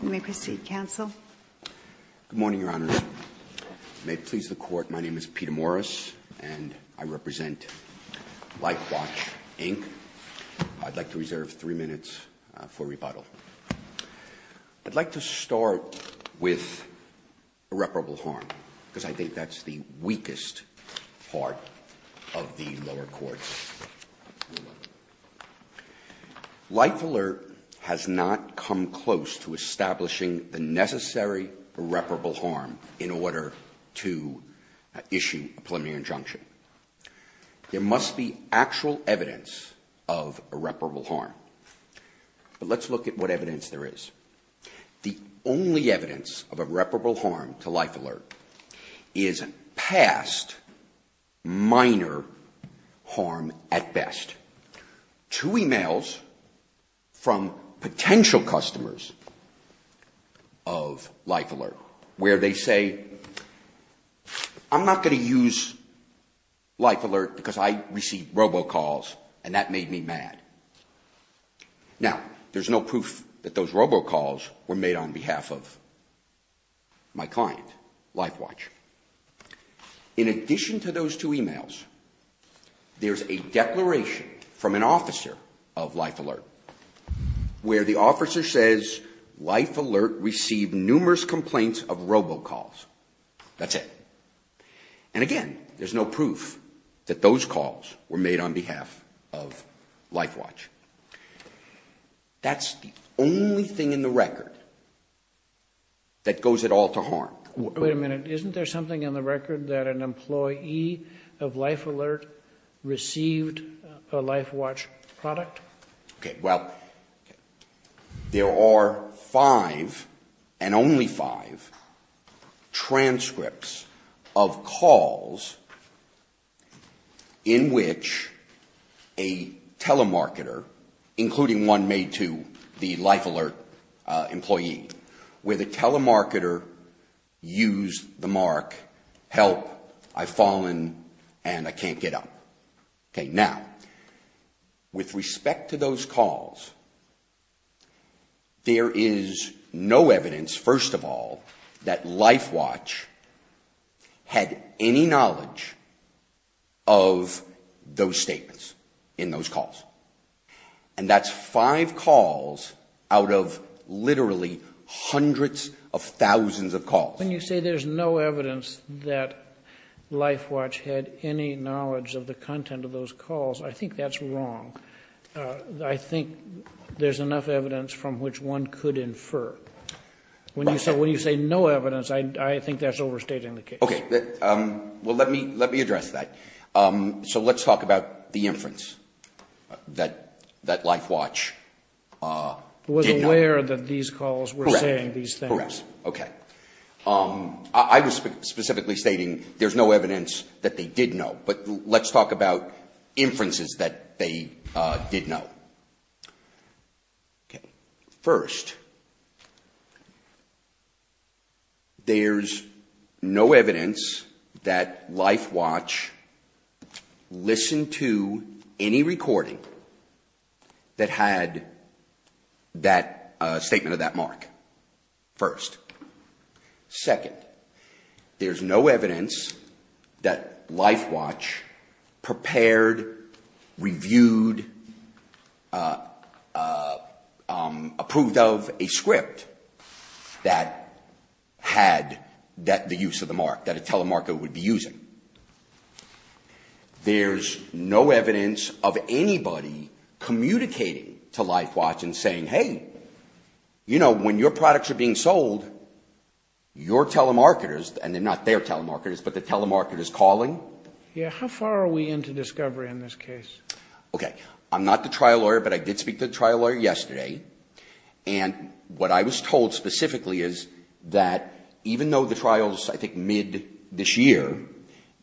Good morning, Your Honors. May it please the Court, my name is Peter Morris, and I represent LifeWatch Inc. I'd like to reserve three minutes for rebuttal. I'd like to start with irreparable harm, because I think that's the weakest part of the lower court's rule. LifeAlert has not come close to establishing the necessary irreparable harm in order to issue a preliminary injunction. There must be actual evidence of irreparable harm. But let's look at what evidence there is. The only evidence of irreparable harm to LifeAlert is past minor harm at best. Two emails from potential customers of LifeAlert where they say, I'm not going to use LifeAlert because I received robocalls and that made me mad. Now, there's no proof that those robocalls were made on behalf of my client, LifeWatch. In addition to those two emails, there's a declaration from an officer of LifeAlert where the officer says, LifeAlert received numerous complaints of robocalls. That's it. And again, there's no proof that those calls were made on behalf of LifeWatch. That's the only thing in the record that goes at all to harm. Wait a minute. Isn't there something in the record that an employee of LifeAlert received a LifeWatch product? Okay. Well, there are five and only five transcripts of calls in which a telemarketer, including one made to the LifeAlert employee, where the telemarketer used the mark, help, I've fallen and I can't get up. Okay. Now, with respect to those calls, there is no evidence, first of all, that LifeWatch had any knowledge of those statements in those calls. And that's five calls out of literally hundreds of thousands of calls. When you say there's no evidence that LifeWatch had any knowledge of the content of those calls, I think that's wrong. I think there's enough evidence from which one could infer. When you say no evidence, I think that's overstating the case. Okay. Well, let me address that. So let's talk about the inference that LifeWatch did know. It was aware that these calls were saying these things. Correct. Correct. Okay. I was specifically stating there's no evidence that they did know, but let's talk about inferences that they did know. Okay. First, there's no evidence that LifeWatch listened to any recording that had that statement of that mark, first. Second, there's no evidence that LifeWatch prepared, reviewed, approved of a script that had the use of the mark, that a telemarketer would be using. There's no evidence of anybody communicating to LifeWatch and saying, hey, you know, when your products are being sold, your telemarketers, and not their telemarketers, but the telemarketers calling. Yeah. How far are we into discovery in this case? Okay. I'm not the trial lawyer, but I did speak to the trial lawyer yesterday. And what I was told specifically is that even though the trial is, I think, mid this year,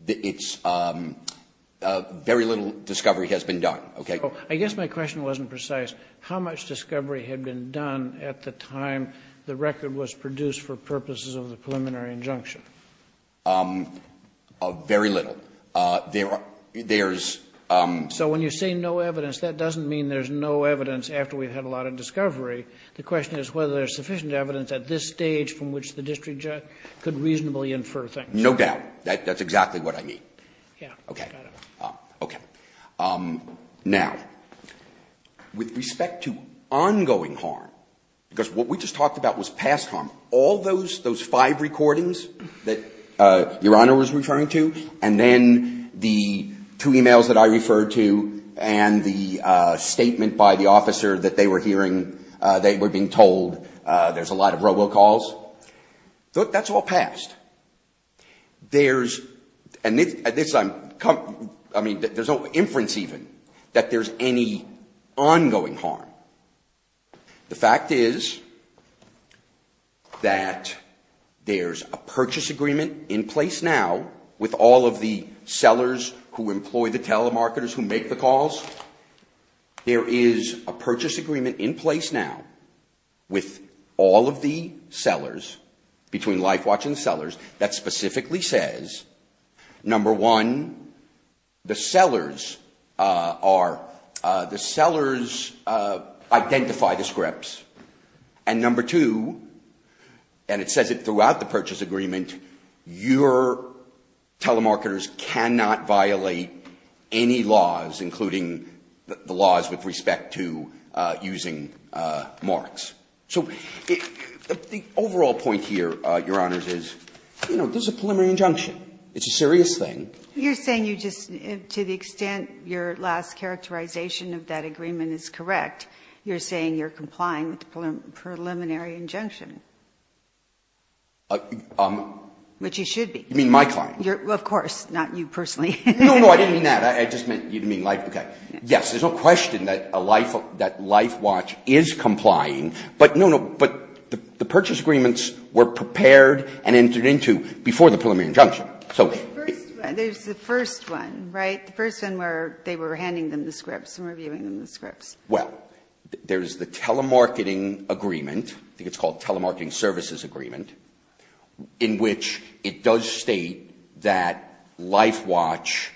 it's very little discovery has been done. Okay? I guess my question wasn't precise. How much discovery had been done at the time the record was produced for purposes of the preliminary injunction? Very little. So when you say no evidence, that doesn't mean there's no evidence after we've had a lot of discovery. The question is whether there's sufficient evidence at this stage from which the district judge could reasonably infer things. No doubt. That's exactly what I mean. Okay. Okay. Now, with respect to ongoing harm, because what we just talked about was past harm, all those five recordings that Your Honor was referring to, and then the two e-mails that I referred to, and the statement by the officer that they were hearing, they were being told there's a lot of robocalls, that's all past. There's no inference even that there's any ongoing harm. The fact is that there's a purchase agreement in place now with all of the sellers who employ the telemarketers who make the calls. There is a purchase agreement in place now with all of the sellers, between LifeWatch and the sellers, that specifically says, number one, the sellers identify the scripts, and number two, and it says it throughout the purchase agreement, your telemarketers cannot violate any laws, including the laws with respect to using marks. So the overall point here, Your Honors, is, you know, this is a preliminary injunction. It's a serious thing. You're saying you just, to the extent your last characterization of that agreement is correct, you're saying you're complying with the preliminary injunction? Which you should be. You mean my client. Of course. Not you personally. No, no, I didn't mean that. I just meant you didn't mean LifeWatch. But, no, no, but the purchase agreements were prepared and entered into before the preliminary injunction. There's the first one, right? The first one where they were handing them the scripts and reviewing them the scripts. Well, there's the telemarketing agreement, I think it's called telemarketing services agreement, in which it does state that LifeWatch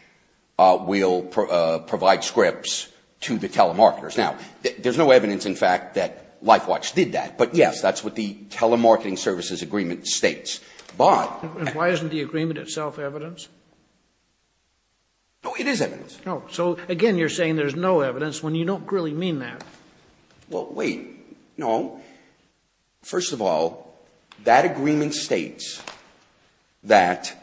will provide scripts to the telemarketers. Now, there's no evidence, in fact, that LifeWatch did that. But, yes, that's what the telemarketing services agreement states. But why isn't the agreement itself evidence? No, it is evidence. So, again, you're saying there's no evidence when you don't really mean that. Well, wait. No. First of all, that agreement states that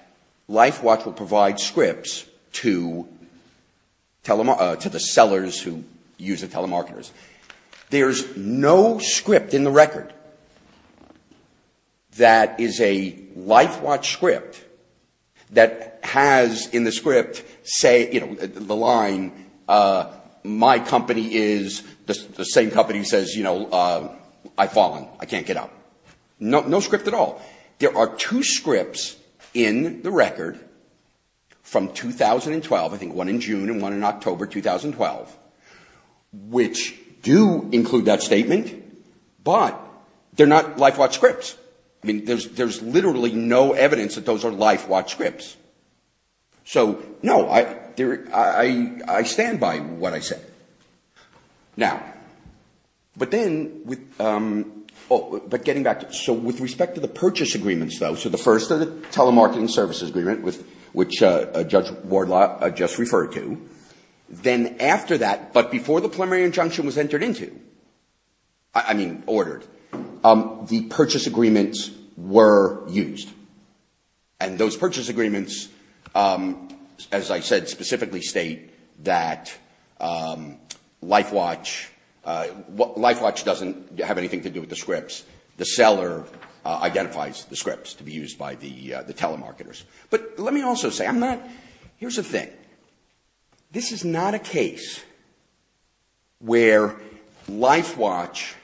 LifeWatch will provide scripts to the sellers who use the telemarketers. There's no script in the record that is a LifeWatch script that has in the script say, you know, the line, my company is, the same company says, you know, I've fallen, I can't get up. No script at all. There are two scripts in the record from 2012, I think one in June and one in October 2012, which do include that statement, but they're not LifeWatch scripts. I mean, there's literally no evidence that those are LifeWatch scripts. So, no, I stand by what I said. Now, but then with, but getting back to, so with respect to the purchase agreements, though, so the first of the telemarketing services agreement, which Judge Wardlaw just referred to, then after that, but before the preliminary injunction was entered into, I mean, ordered, the purchase agreements were used. And those purchase agreements, as I said, specifically state that LifeWatch, LifeWatch doesn't have anything to do with the scripts. The seller identifies the scripts to be used by the telemarketers. But let me also say, I'm not, here's the thing. This is not a case where LifeWatch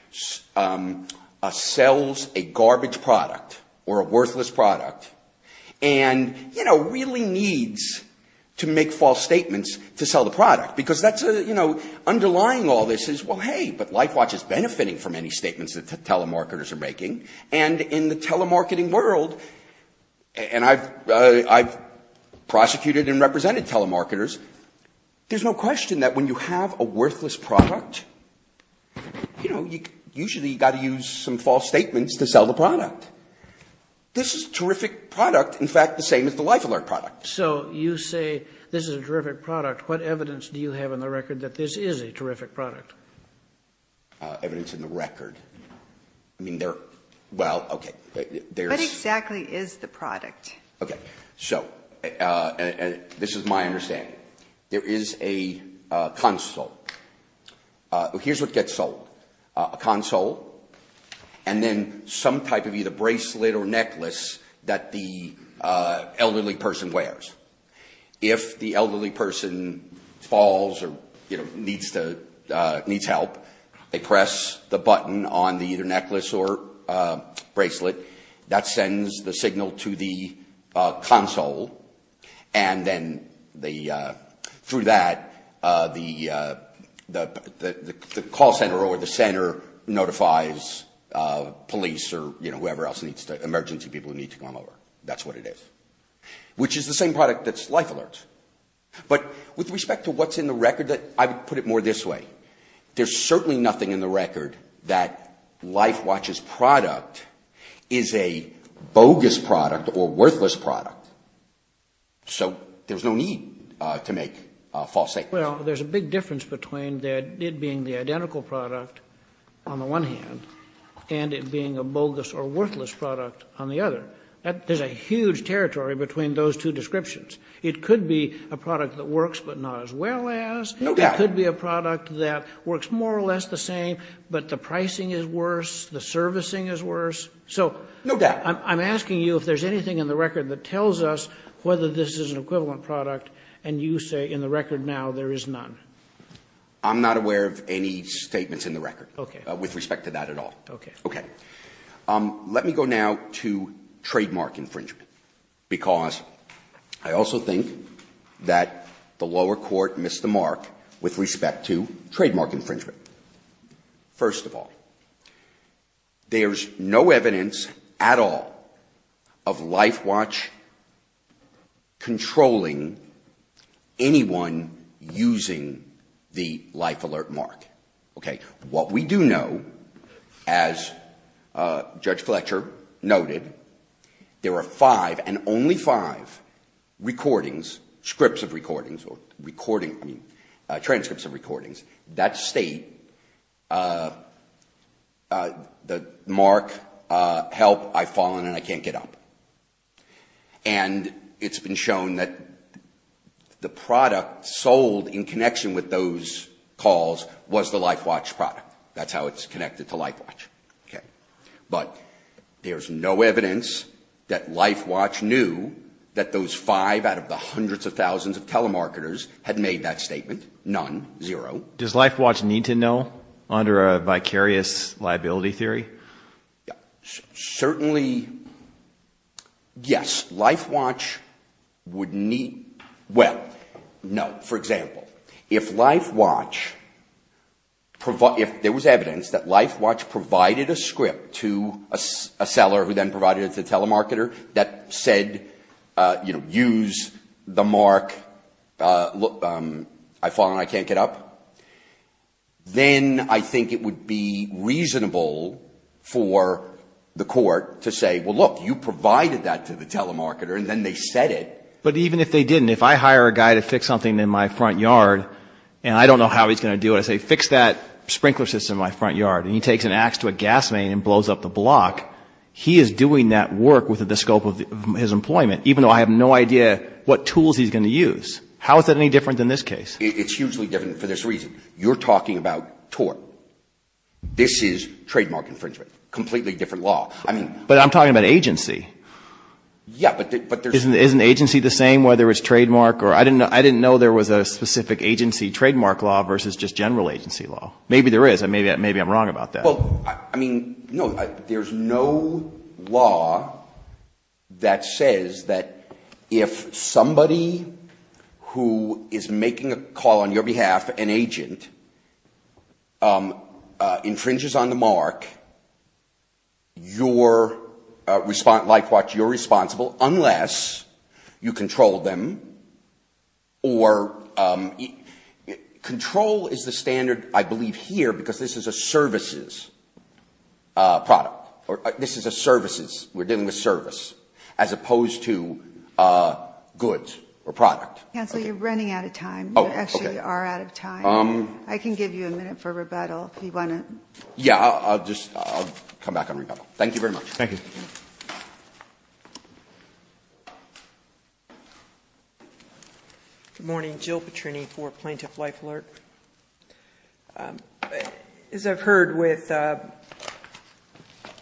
sells a garbage product or a worthless product and, you know, really needs to make false statements to sell the product, because that's, you know, underlying all this is, well, hey, but LifeWatch is benefiting from any statements that telemarketers are making, and in the telemarketing world, and I've prosecuted and represented telemarketers, there's no question that when you have a worthless product, you know, usually you've got to use some false statements to sell the product. This is a terrific product, in fact, the same as the LifeAlert product. So you say this is a terrific product. What evidence do you have in the record that this is a terrific product? Evidence in the record. I mean, there, well, okay. What exactly is the product? Okay, so this is my understanding. There is a console. Here's what gets sold. A console and then some type of either bracelet or necklace that the elderly person wears. If the elderly person falls or, you know, needs to, needs help, they press the button on the either necklace or bracelet. That sends the signal to the console, and then they, through that, the call center or the center notifies police or, you know, whoever else needs to, emergency people who need to come over. That's what it is, which is the same product that's LifeAlert. But with respect to what's in the record, I would put it more this way. There's certainly nothing in the record that LifeWatch's product is a bogus product or worthless product. So there's no need to make false statements. Well, there's a big difference between it being the identical product on the one hand and it being a bogus or worthless product on the other. There's a huge territory between those two descriptions. It could be a product that works but not as well as. No doubt. It could be a product that works more or less the same, but the pricing is worse, the servicing is worse. So I'm asking you if there's anything in the record that tells us whether this is an equivalent product, and you say in the record now there is none. I'm not aware of any statements in the record with respect to that at all. Okay. Okay. Let me go now to trademark infringement, because I also think that the lower court missed the mark with respect to trademark infringement. First of all, there's no evidence at all of LifeWatch controlling anyone using the life alert mark. Okay. What we do know, as Judge Fletcher noted, there are five and only five recordings, scripts of recordings or transcripts of recordings that state the mark, help, I've fallen and I can't get up. And it's been shown that the product sold in connection with those calls was the LifeWatch product. That's how it's connected to LifeWatch. Okay. But there's no evidence that LifeWatch knew that those five out of the hundreds of thousands of telemarketers had made that statement. None. Zero. Does LifeWatch need to know under a vicarious liability theory? Certainly, yes. LifeWatch would need, well, no. For example, if LifeWatch provided, if there was evidence that LifeWatch provided a script to a seller who then provided it to the telemarketer that said, you know, use the mark, I've fallen and I can't get up, then I think it would be reasonable for the court to say, well, look, you provided that to the telemarketer and then they said it. But even if they didn't, if I hire a guy to fix something in my front yard and I don't know how he's going to do it, I say, fix that sprinkler system in my front yard, and he takes an ax to a gas main and blows up the block, he is doing that work within the scope of his employment, even though I have no idea what tools he's going to use. How is that any different than this case? It's hugely different for this reason. You're talking about tort. This is trademark infringement, completely different law. But I'm talking about agency. Yeah, but there's... Isn't agency the same whether it's trademark or... I didn't know there was a specific agency trademark law versus just general agency law. Maybe there is. Maybe I'm wrong about that. Well, I mean, no, there's no law that says that if somebody who is making a call on your behalf, an agent, infringes on the mark, your response, likewise, you're responsible unless you control them or... Control is the standard, I believe, here because this is a services product. This is a services. We're dealing with service as opposed to goods or product. Counsel, you're running out of time. Oh, okay. You actually are out of time. I can give you a minute for rebuttal if you want to... Yeah, I'll just come back on rebuttal. Thank you very much. Thank you. Good morning. Jill Petrini for Plaintiff Life Alert. As I've heard with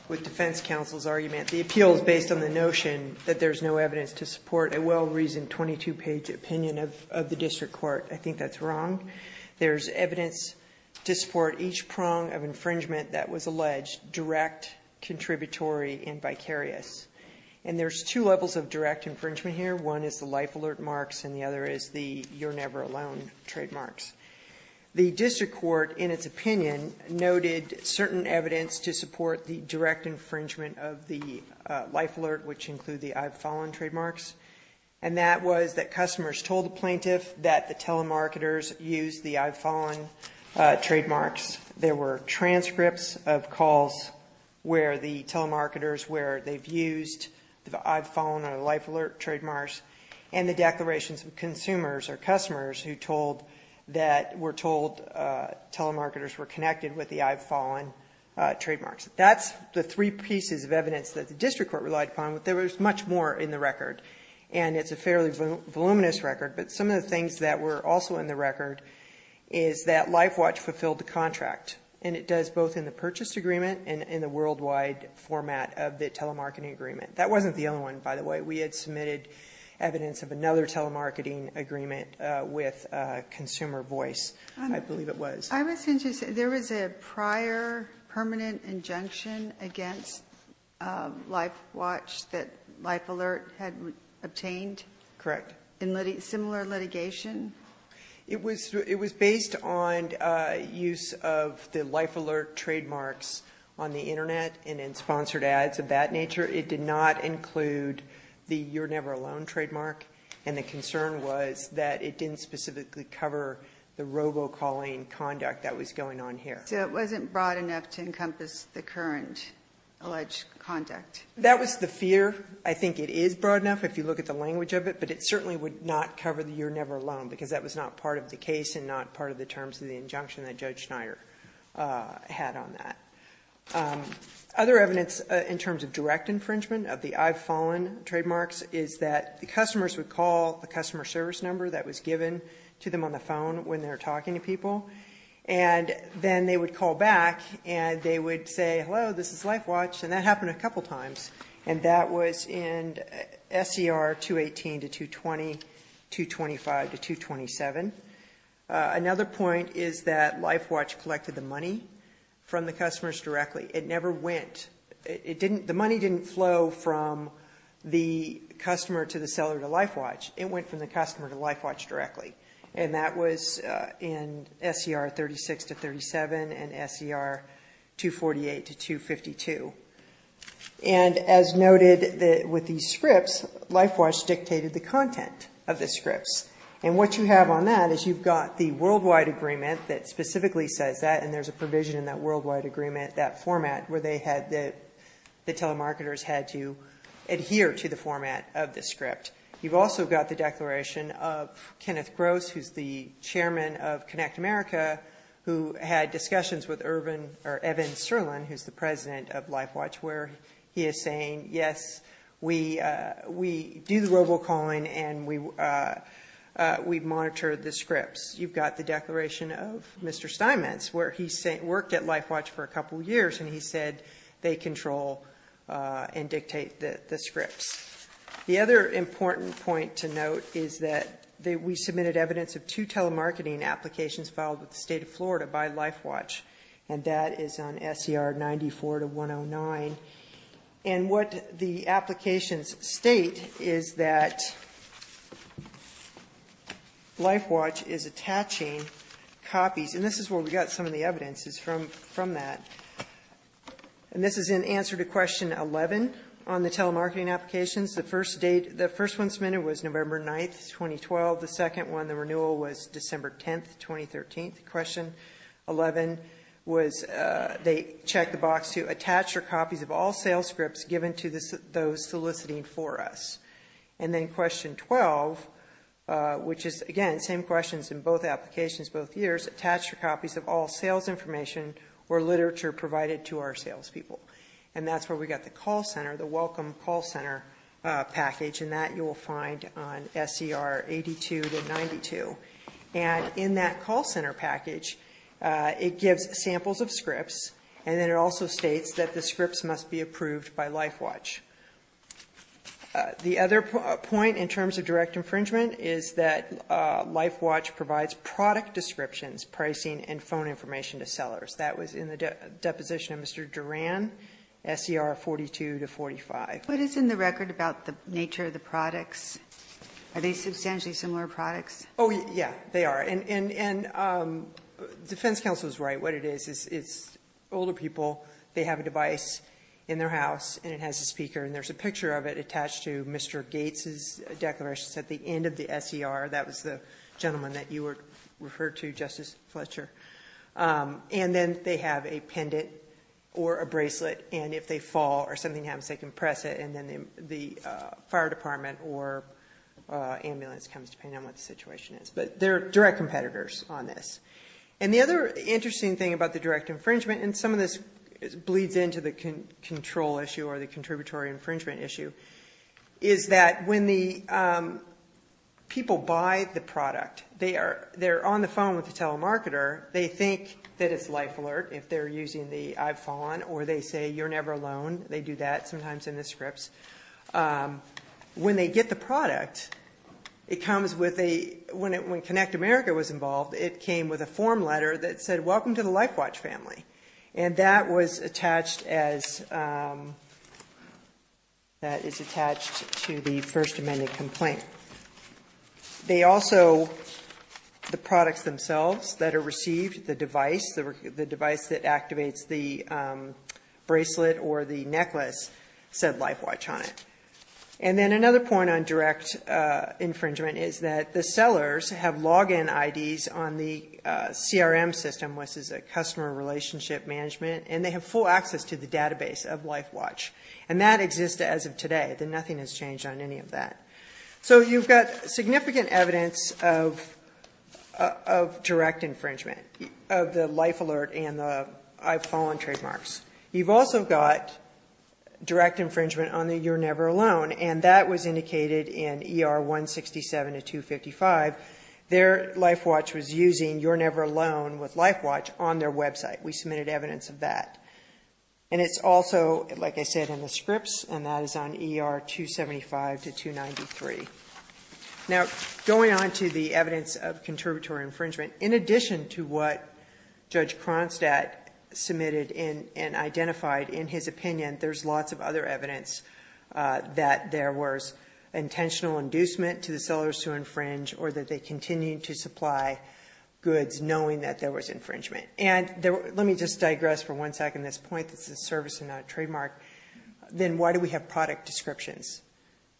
defense counsel's argument, the appeal is based on the notion that there's no evidence to support a well-reasoned 22-page opinion of the district court. I think that's wrong. There's evidence to support each prong of infringement that was alleged direct, contributory, and vicarious. And there's two levels of direct infringement here. One is the life alert marks and the other is the you're never alone trademarks. The district court, in its opinion, noted certain evidence to support the direct infringement of the life alert, which include the I've fallen trademarks. And that was that customers told the plaintiff that the telemarketers used the I've fallen trademarks. There were transcripts of calls where the telemarketers, where they've used the I've fallen or life alert trademarks, and the declarations of consumers or customers who were told telemarketers were connected with the I've fallen trademarks. That's the three pieces of evidence that the district court relied upon. There was much more in the record, and it's a fairly voluminous record. But some of the things that were also in the record is that LifeWatch fulfilled the contract, and it does both in the purchase agreement and in the worldwide format of the telemarketing agreement. That wasn't the only one, by the way. We had submitted evidence of another telemarketing agreement with Consumer Voice, I believe it was. I was going to say, there was a prior permanent injunction against LifeWatch that LifeAlert had obtained? Correct. In similar litigation? It was based on use of the LifeAlert trademarks on the Internet and in sponsored ads of that nature. It did not include the you're never alone trademark. And the concern was that it didn't specifically cover the robo-calling conduct that was going on here. So it wasn't broad enough to encompass the current alleged conduct? That was the fear. I think it is broad enough if you look at the language of it, but it certainly would not cover the you're never alone, because that was not part of the case and not part of the terms of the injunction that Judge Schneier had on that. Other evidence in terms of direct infringement of the I've fallen trademarks is that the customers would call the customer service number that was given to them on the phone when they were talking to people, and then they would call back and they would say, hello, this is LifeWatch, and that happened a couple times. And that was in SCR 218 to 220, 225 to 227. Another point is that LifeWatch collected the money from the customers directly. It never went. The money didn't flow from the customer to the seller to LifeWatch. It went from the customer to LifeWatch directly. And that was in SCR 36 to 37 and SCR 248 to 252. And as noted with these scripts, LifeWatch dictated the content of the scripts. And what you have on that is you've got the worldwide agreement that specifically says that, and there's a provision in that worldwide agreement, that format, where the telemarketers had to adhere to the format of the script. You've also got the declaration of Kenneth Gross, who's the chairman of Connect America, who had discussions with Evan Serlin, who's the president of LifeWatch, where he is saying, yes, we do the robocalling and we monitor the scripts. You've got the declaration of Mr. Steinmetz, where he worked at LifeWatch for a couple years, and he said they control and dictate the scripts. The other important point to note is that we submitted evidence of two telemarketing applications filed with the state of Florida by LifeWatch, and that is on SCR 94 to 109. And what the applications state is that LifeWatch is attaching copies. And this is where we got some of the evidence is from that. And this is in answer to question 11 on the telemarketing applications. The first one submitted was November 9, 2012. The second one, the renewal, was December 10, 2013. Question 11 was they checked the box to attach your copies of all sales scripts given to those soliciting for us. And then question 12, which is, again, same questions in both applications, both years, attach your copies of all sales information or literature provided to our salespeople. And that's where we got the call center, the welcome call center package, and that you will find on SCR 82 to 92. And in that call center package, it gives samples of scripts, and then it also states that the scripts must be approved by LifeWatch. The other point in terms of direct infringement is that LifeWatch provides product descriptions, pricing, and phone information to sellers. That was in the deposition of Mr. Duran, SCR 42 to 45. What is in the record about the nature of the products? Are they substantially similar products? Oh, yeah, they are. And defense counsel is right. What it is, it's older people. They have a device in their house, and it has a speaker, and there's a picture of it attached to Mr. Gates's declarations at the end of the SCR. That was the gentleman that you referred to, Justice Fletcher. And then they have a pendant or a bracelet, and if they fall or something happens, they can press it, and then the fire department or ambulance comes depending on what the situation is. But they're direct competitors on this. And the other interesting thing about the direct infringement, and some of this bleeds into the control issue or the contributory infringement issue, is that when the people buy the product, they're on the phone with the telemarketer. They think that it's life alert if they're using the iPhone, or they say you're never alone. They do that sometimes in the scripts. When they get the product, it comes with a ‑‑ when Connect America was involved, it came with a form letter that said, welcome to the LifeWatch family. And that was attached as ‑‑ that is attached to the first amended complaint. They also, the products themselves that are received, the device, the device that activates the bracelet or the necklace said LifeWatch on it. And then another point on direct infringement is that the sellers have login IDs on the CRM system, which is a customer relationship management, and they have full access to the database of LifeWatch. And that exists as of today. Nothing has changed on any of that. So you've got significant evidence of direct infringement, of the life alert and the iPhone trademarks. You've also got direct infringement on the you're never alone, and that was indicated in ER 167 to 255. Their LifeWatch was using you're never alone with LifeWatch on their website. We submitted evidence of that. And it's also, like I said, in the scripts, and that is on ER 275 to 293. Now, going on to the evidence of contributory infringement, in addition to what Judge Cronstadt submitted and identified in his opinion, there's lots of other evidence that there was intentional inducement to the sellers to infringe or that they continued to supply goods knowing that there was infringement. And let me just digress for one second on this point. This is a service and not a trademark. Then why do we have product descriptions?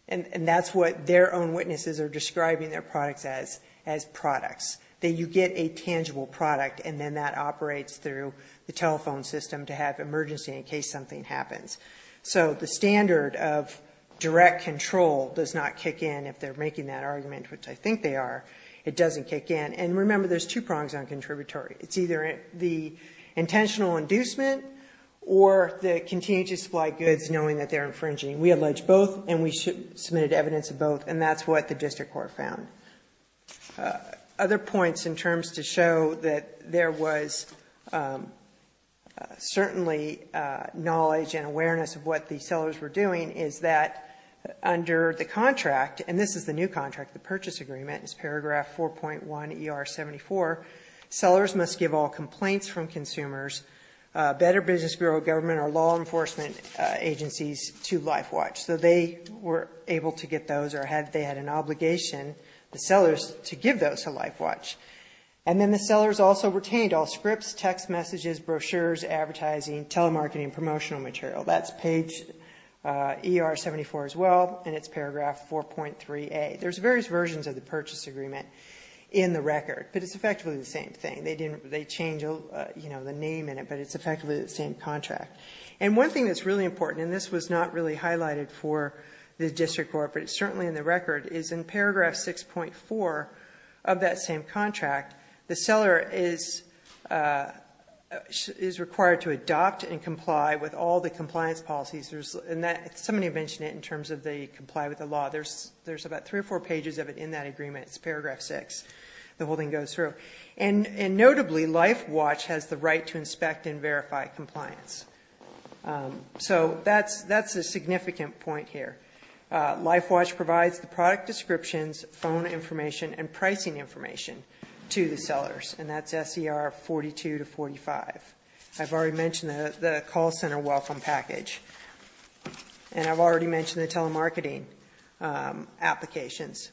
And that's what their own witnesses are describing their products as, as products, that you get a tangible product and then that operates through the telephone system to have emergency in case something happens. So the standard of direct control does not kick in if they're making that argument, which I think they are. It doesn't kick in. And remember, there's two prongs on contributory. It's either the intentional inducement or the continuing to supply goods knowing that they're infringing. We allege both, and we submitted evidence of both, and that's what the district court found. Other points in terms to show that there was certainly knowledge and awareness of what the sellers were doing is that under the contract, and this is the new contract, the purchase agreement, it's paragraph 4.1 ER-74, sellers must give all complaints from consumers, Better Business Bureau of Government or law enforcement agencies to LifeWatch. So they were able to get those or they had an obligation, the sellers, to give those to LifeWatch. And then the sellers also retained all scripts, text messages, brochures, advertising, telemarketing, promotional material. That's page ER-74 as well, and it's paragraph 4.3A. There's various versions of the purchase agreement in the record, but it's effectively the same thing. They change the name in it, but it's effectively the same contract. And one thing that's really important, and this was not really highlighted for the district court, but it's certainly in the record, is in paragraph 6.4 of that same contract, the seller is required to adopt and comply with all the compliance policies. Somebody mentioned it in terms of they comply with the law. There's about three or four pages of it in that agreement. It's paragraph 6. The whole thing goes through. And notably, LifeWatch has the right to inspect and verify compliance. So that's a significant point here. LifeWatch provides the product descriptions, phone information, and pricing information to the sellers, and that's SER-42 to 45. I've already mentioned the call center welcome package, and I've already mentioned the telemarketing applications.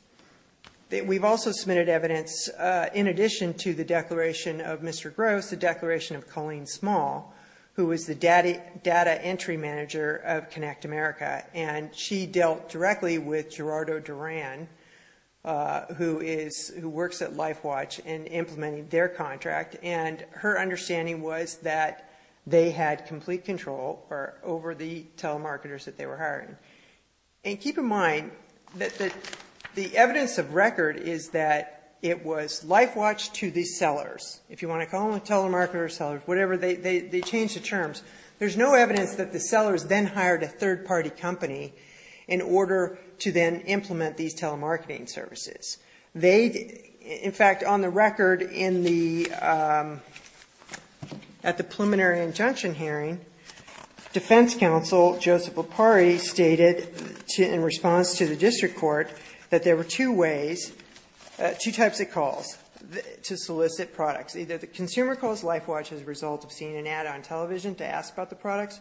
We've also submitted evidence in addition to the declaration of Mr. Gross, the declaration of Colleen Small, who is the data entry manager of Connect America, and she dealt directly with Gerardo Duran, who works at LifeWatch, in implementing their contract, and her understanding was that they had complete control over the telemarketers that they were hiring. And keep in mind that the evidence of record is that it was LifeWatch to the sellers. If you want to call them telemarketers, sellers, whatever, they changed the terms. There's no evidence that the sellers then hired a third-party company in order to then implement these telemarketing services. In fact, on the record at the preliminary injunction hearing, defense counsel Joseph Lopari stated in response to the district court that there were two ways, two types of calls to solicit products. Either the consumer calls LifeWatch as a result of seeing an ad on television to ask about the products,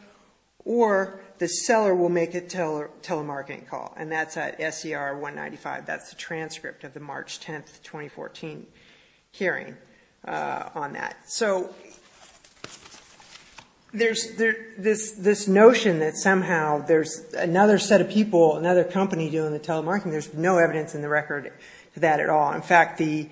or the seller will make a telemarketing call, and that's at SER 195. That's the transcript of the March 10, 2014, hearing on that. So there's this notion that somehow there's another set of people, another company doing the telemarketing. There's no evidence in the record of that at all. In fact, the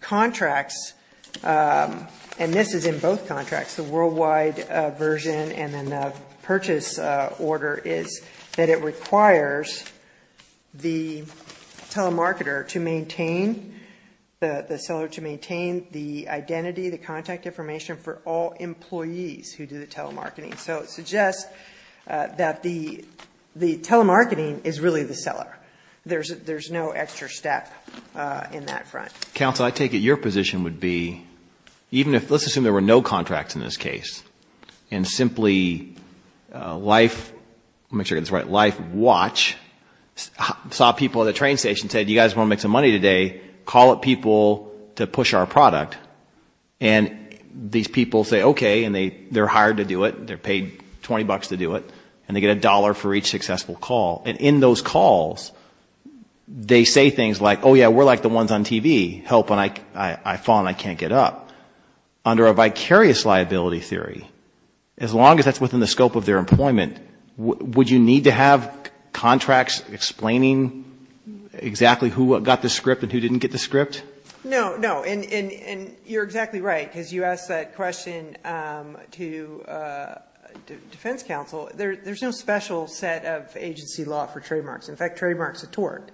contracts, and this is in both contracts, the worldwide version and then the purchase order, is that it requires the telemarketer to maintain, the seller to maintain the identity, the contact information for all employees who do the telemarketing. So it suggests that the telemarketing is really the seller. There's no extra step in that front. Counsel, I take it your position would be, let's assume there were no contracts in this case, and simply LifeWatch saw people at a train station and said, you guys want to make some money today, call up people to push our product, and these people say okay, and they're hired to do it, they're paid $20 to do it, and they get a dollar for each successful call. And in those calls, they say things like, oh yeah, we're like the ones on TV, help, and I fall and I can't get up. Well, under a vicarious liability theory, as long as that's within the scope of their employment, would you need to have contracts explaining exactly who got the script and who didn't get the script? No, no, and you're exactly right, because you asked that question to defense counsel. There's no special set of agency law for trademarks. In fact, trademark's a tort.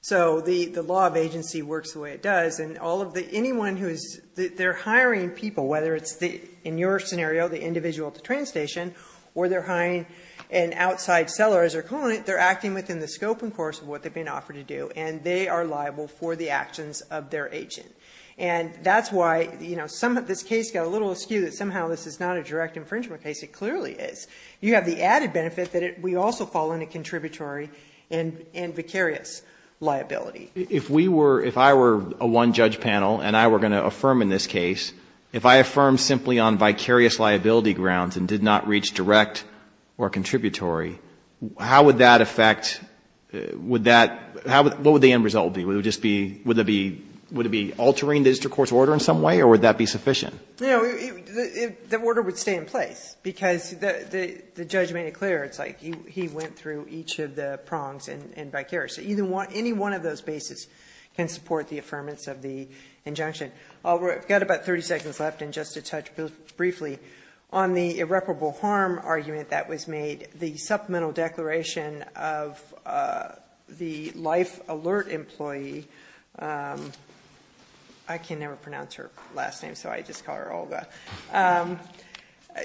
So the law of agency works the way it does, and anyone who is hiring people, whether it's in your scenario, the individual at the train station, or they're hiring an outside seller as their client, they're acting within the scope and course of what they've been offered to do, and they are liable for the actions of their agent. And that's why this case got a little askew, that somehow this is not a direct infringement case. It clearly is. You have the added benefit that we also fall under contributory and vicarious liability. If we were, if I were a one-judge panel, and I were going to affirm in this case, if I affirmed simply on vicarious liability grounds and did not reach direct or contributory, how would that affect, would that, what would the end result be? Would it just be, would it be, would it be altering the district court's order in some way, or would that be sufficient? No, the order would stay in place, because the judge made it clear, it's like he went through each of the prongs in vicarious. Any one of those bases can support the affirmance of the injunction. I've got about 30 seconds left, and just to touch briefly on the irreparable harm argument that was made. The supplemental declaration of the life alert employee, I can never pronounce her last name, so I just call her Olga.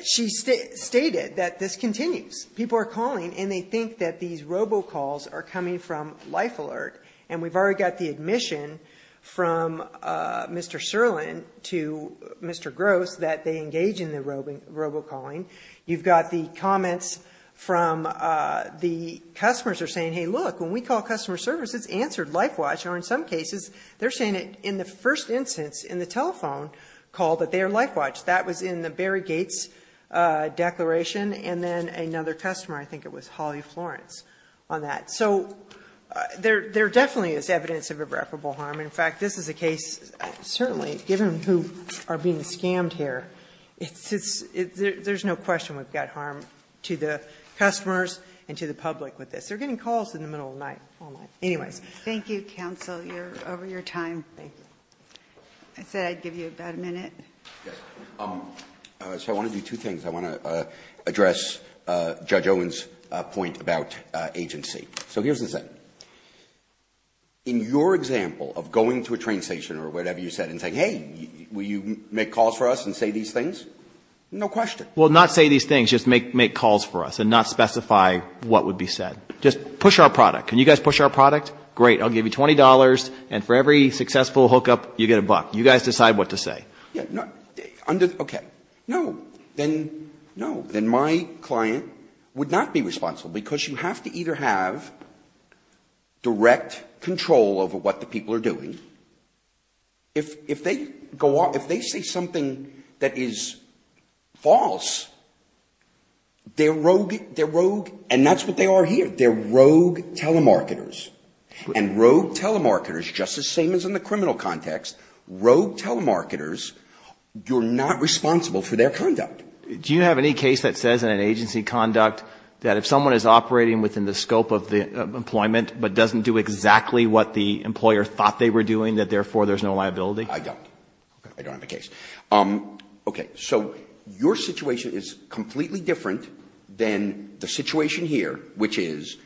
She stated that this continues. People are calling, and they think that these robocalls are coming from life alert, and we've already got the admission from Mr. Serlin to Mr. Gross that they engage in the robocalling. You've got the comments from the customers are saying, hey, look, when we call customer service, it's answered life watch, or in some cases, they're saying it in the first instance, in the telephone call, that they are life watch. That was in the Barry Gates declaration, and then another customer, I think it was Holly Florence, on that. So there definitely is evidence of irreparable harm. In fact, this is a case, certainly, given who are being scammed here, there's no question we've got harm to the customers and to the public with this. They're getting calls in the middle of the night. Anyway. Ginsburg. Thank you, counsel. You're over your time. I said I'd give you about a minute. Verrilli, I want to do two things. I want to address Judge Owen's point about agency. So here's the thing. In your example of going to a train station or whatever you said and saying, hey, will you make calls for us and say these things? No question. Well, not say these things, just make calls for us and not specify what would be said. Just push our product. Can you guys push our product? Great. I'll give you $20, and for every successful hookup, you get a buck. You guys decide what to say. Okay. No. Then my client would not be responsible, because you have to either have direct control over what the people are doing. If they say something that is false, they're rogue, and that's what they are here. They're rogue telemarketers. And rogue telemarketers, just the same as in the criminal context, rogue telemarketers, you're not responsible for their conduct. Do you have any case that says in an agency conduct that if someone is operating within the scope of employment but doesn't do exactly what the employer thought they were doing, that therefore there's no liability? I don't. I don't have a case. Okay. So your situation is completely different than the situation here, which is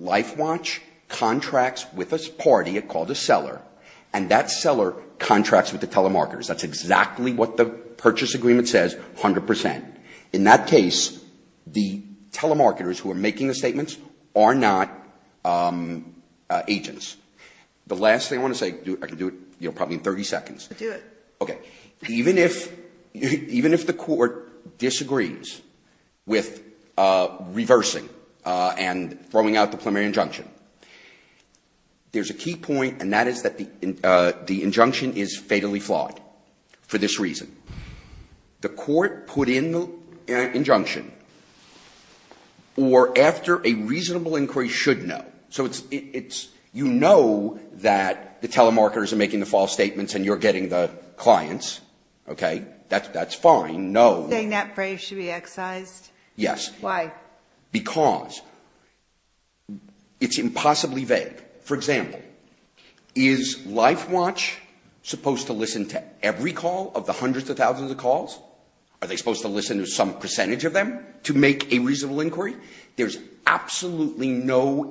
LifeWatch contracts with a party called a seller, and that seller contracts with the telemarketers. That's exactly what the purchase agreement says, 100%. In that case, the telemarketers who are making the statements are not agents. The last thing I want to say, I can do it probably in 30 seconds. Do it. Okay. Even if the court disagrees with reversing and throwing out the preliminary injunction, there's a key point, and that is that the injunction is fatally flawed for this reason. The court put in the injunction, or after a reasonable inquiry should know. So you know that the telemarketers are making the false statements and you're getting the clients. Okay. That's fine. Saying that phrase should be excised? Yes. Why? Because it's impossibly vague. For example, is LifeWatch supposed to listen to every call of the hundreds of thousands of calls? Are they supposed to listen to some percentage of them to make a reasonable inquiry? There's absolutely no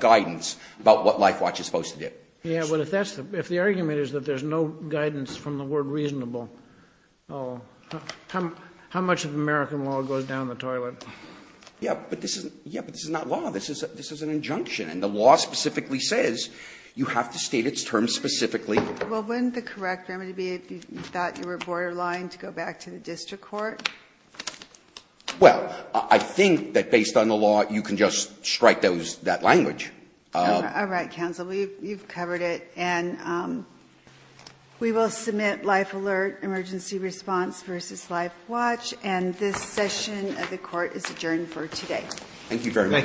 guidance about what LifeWatch is supposed to do. Yeah, but if the argument is that there's no guidance from the word reasonable, how much of American law goes down the toilet? Yeah, but this is not law. This is an injunction, and the law specifically says you have to state its terms specifically. Well, wouldn't the correct remedy be if you thought you were borderline to go back to the district court? Well, I think that based on the law, you can just strike that language. All right, counsel. You've covered it. And we will submit life alert emergency response versus LifeWatch, and this session of the court is adjourned for today. Thank you very much. Thank you, counsel. Thank you.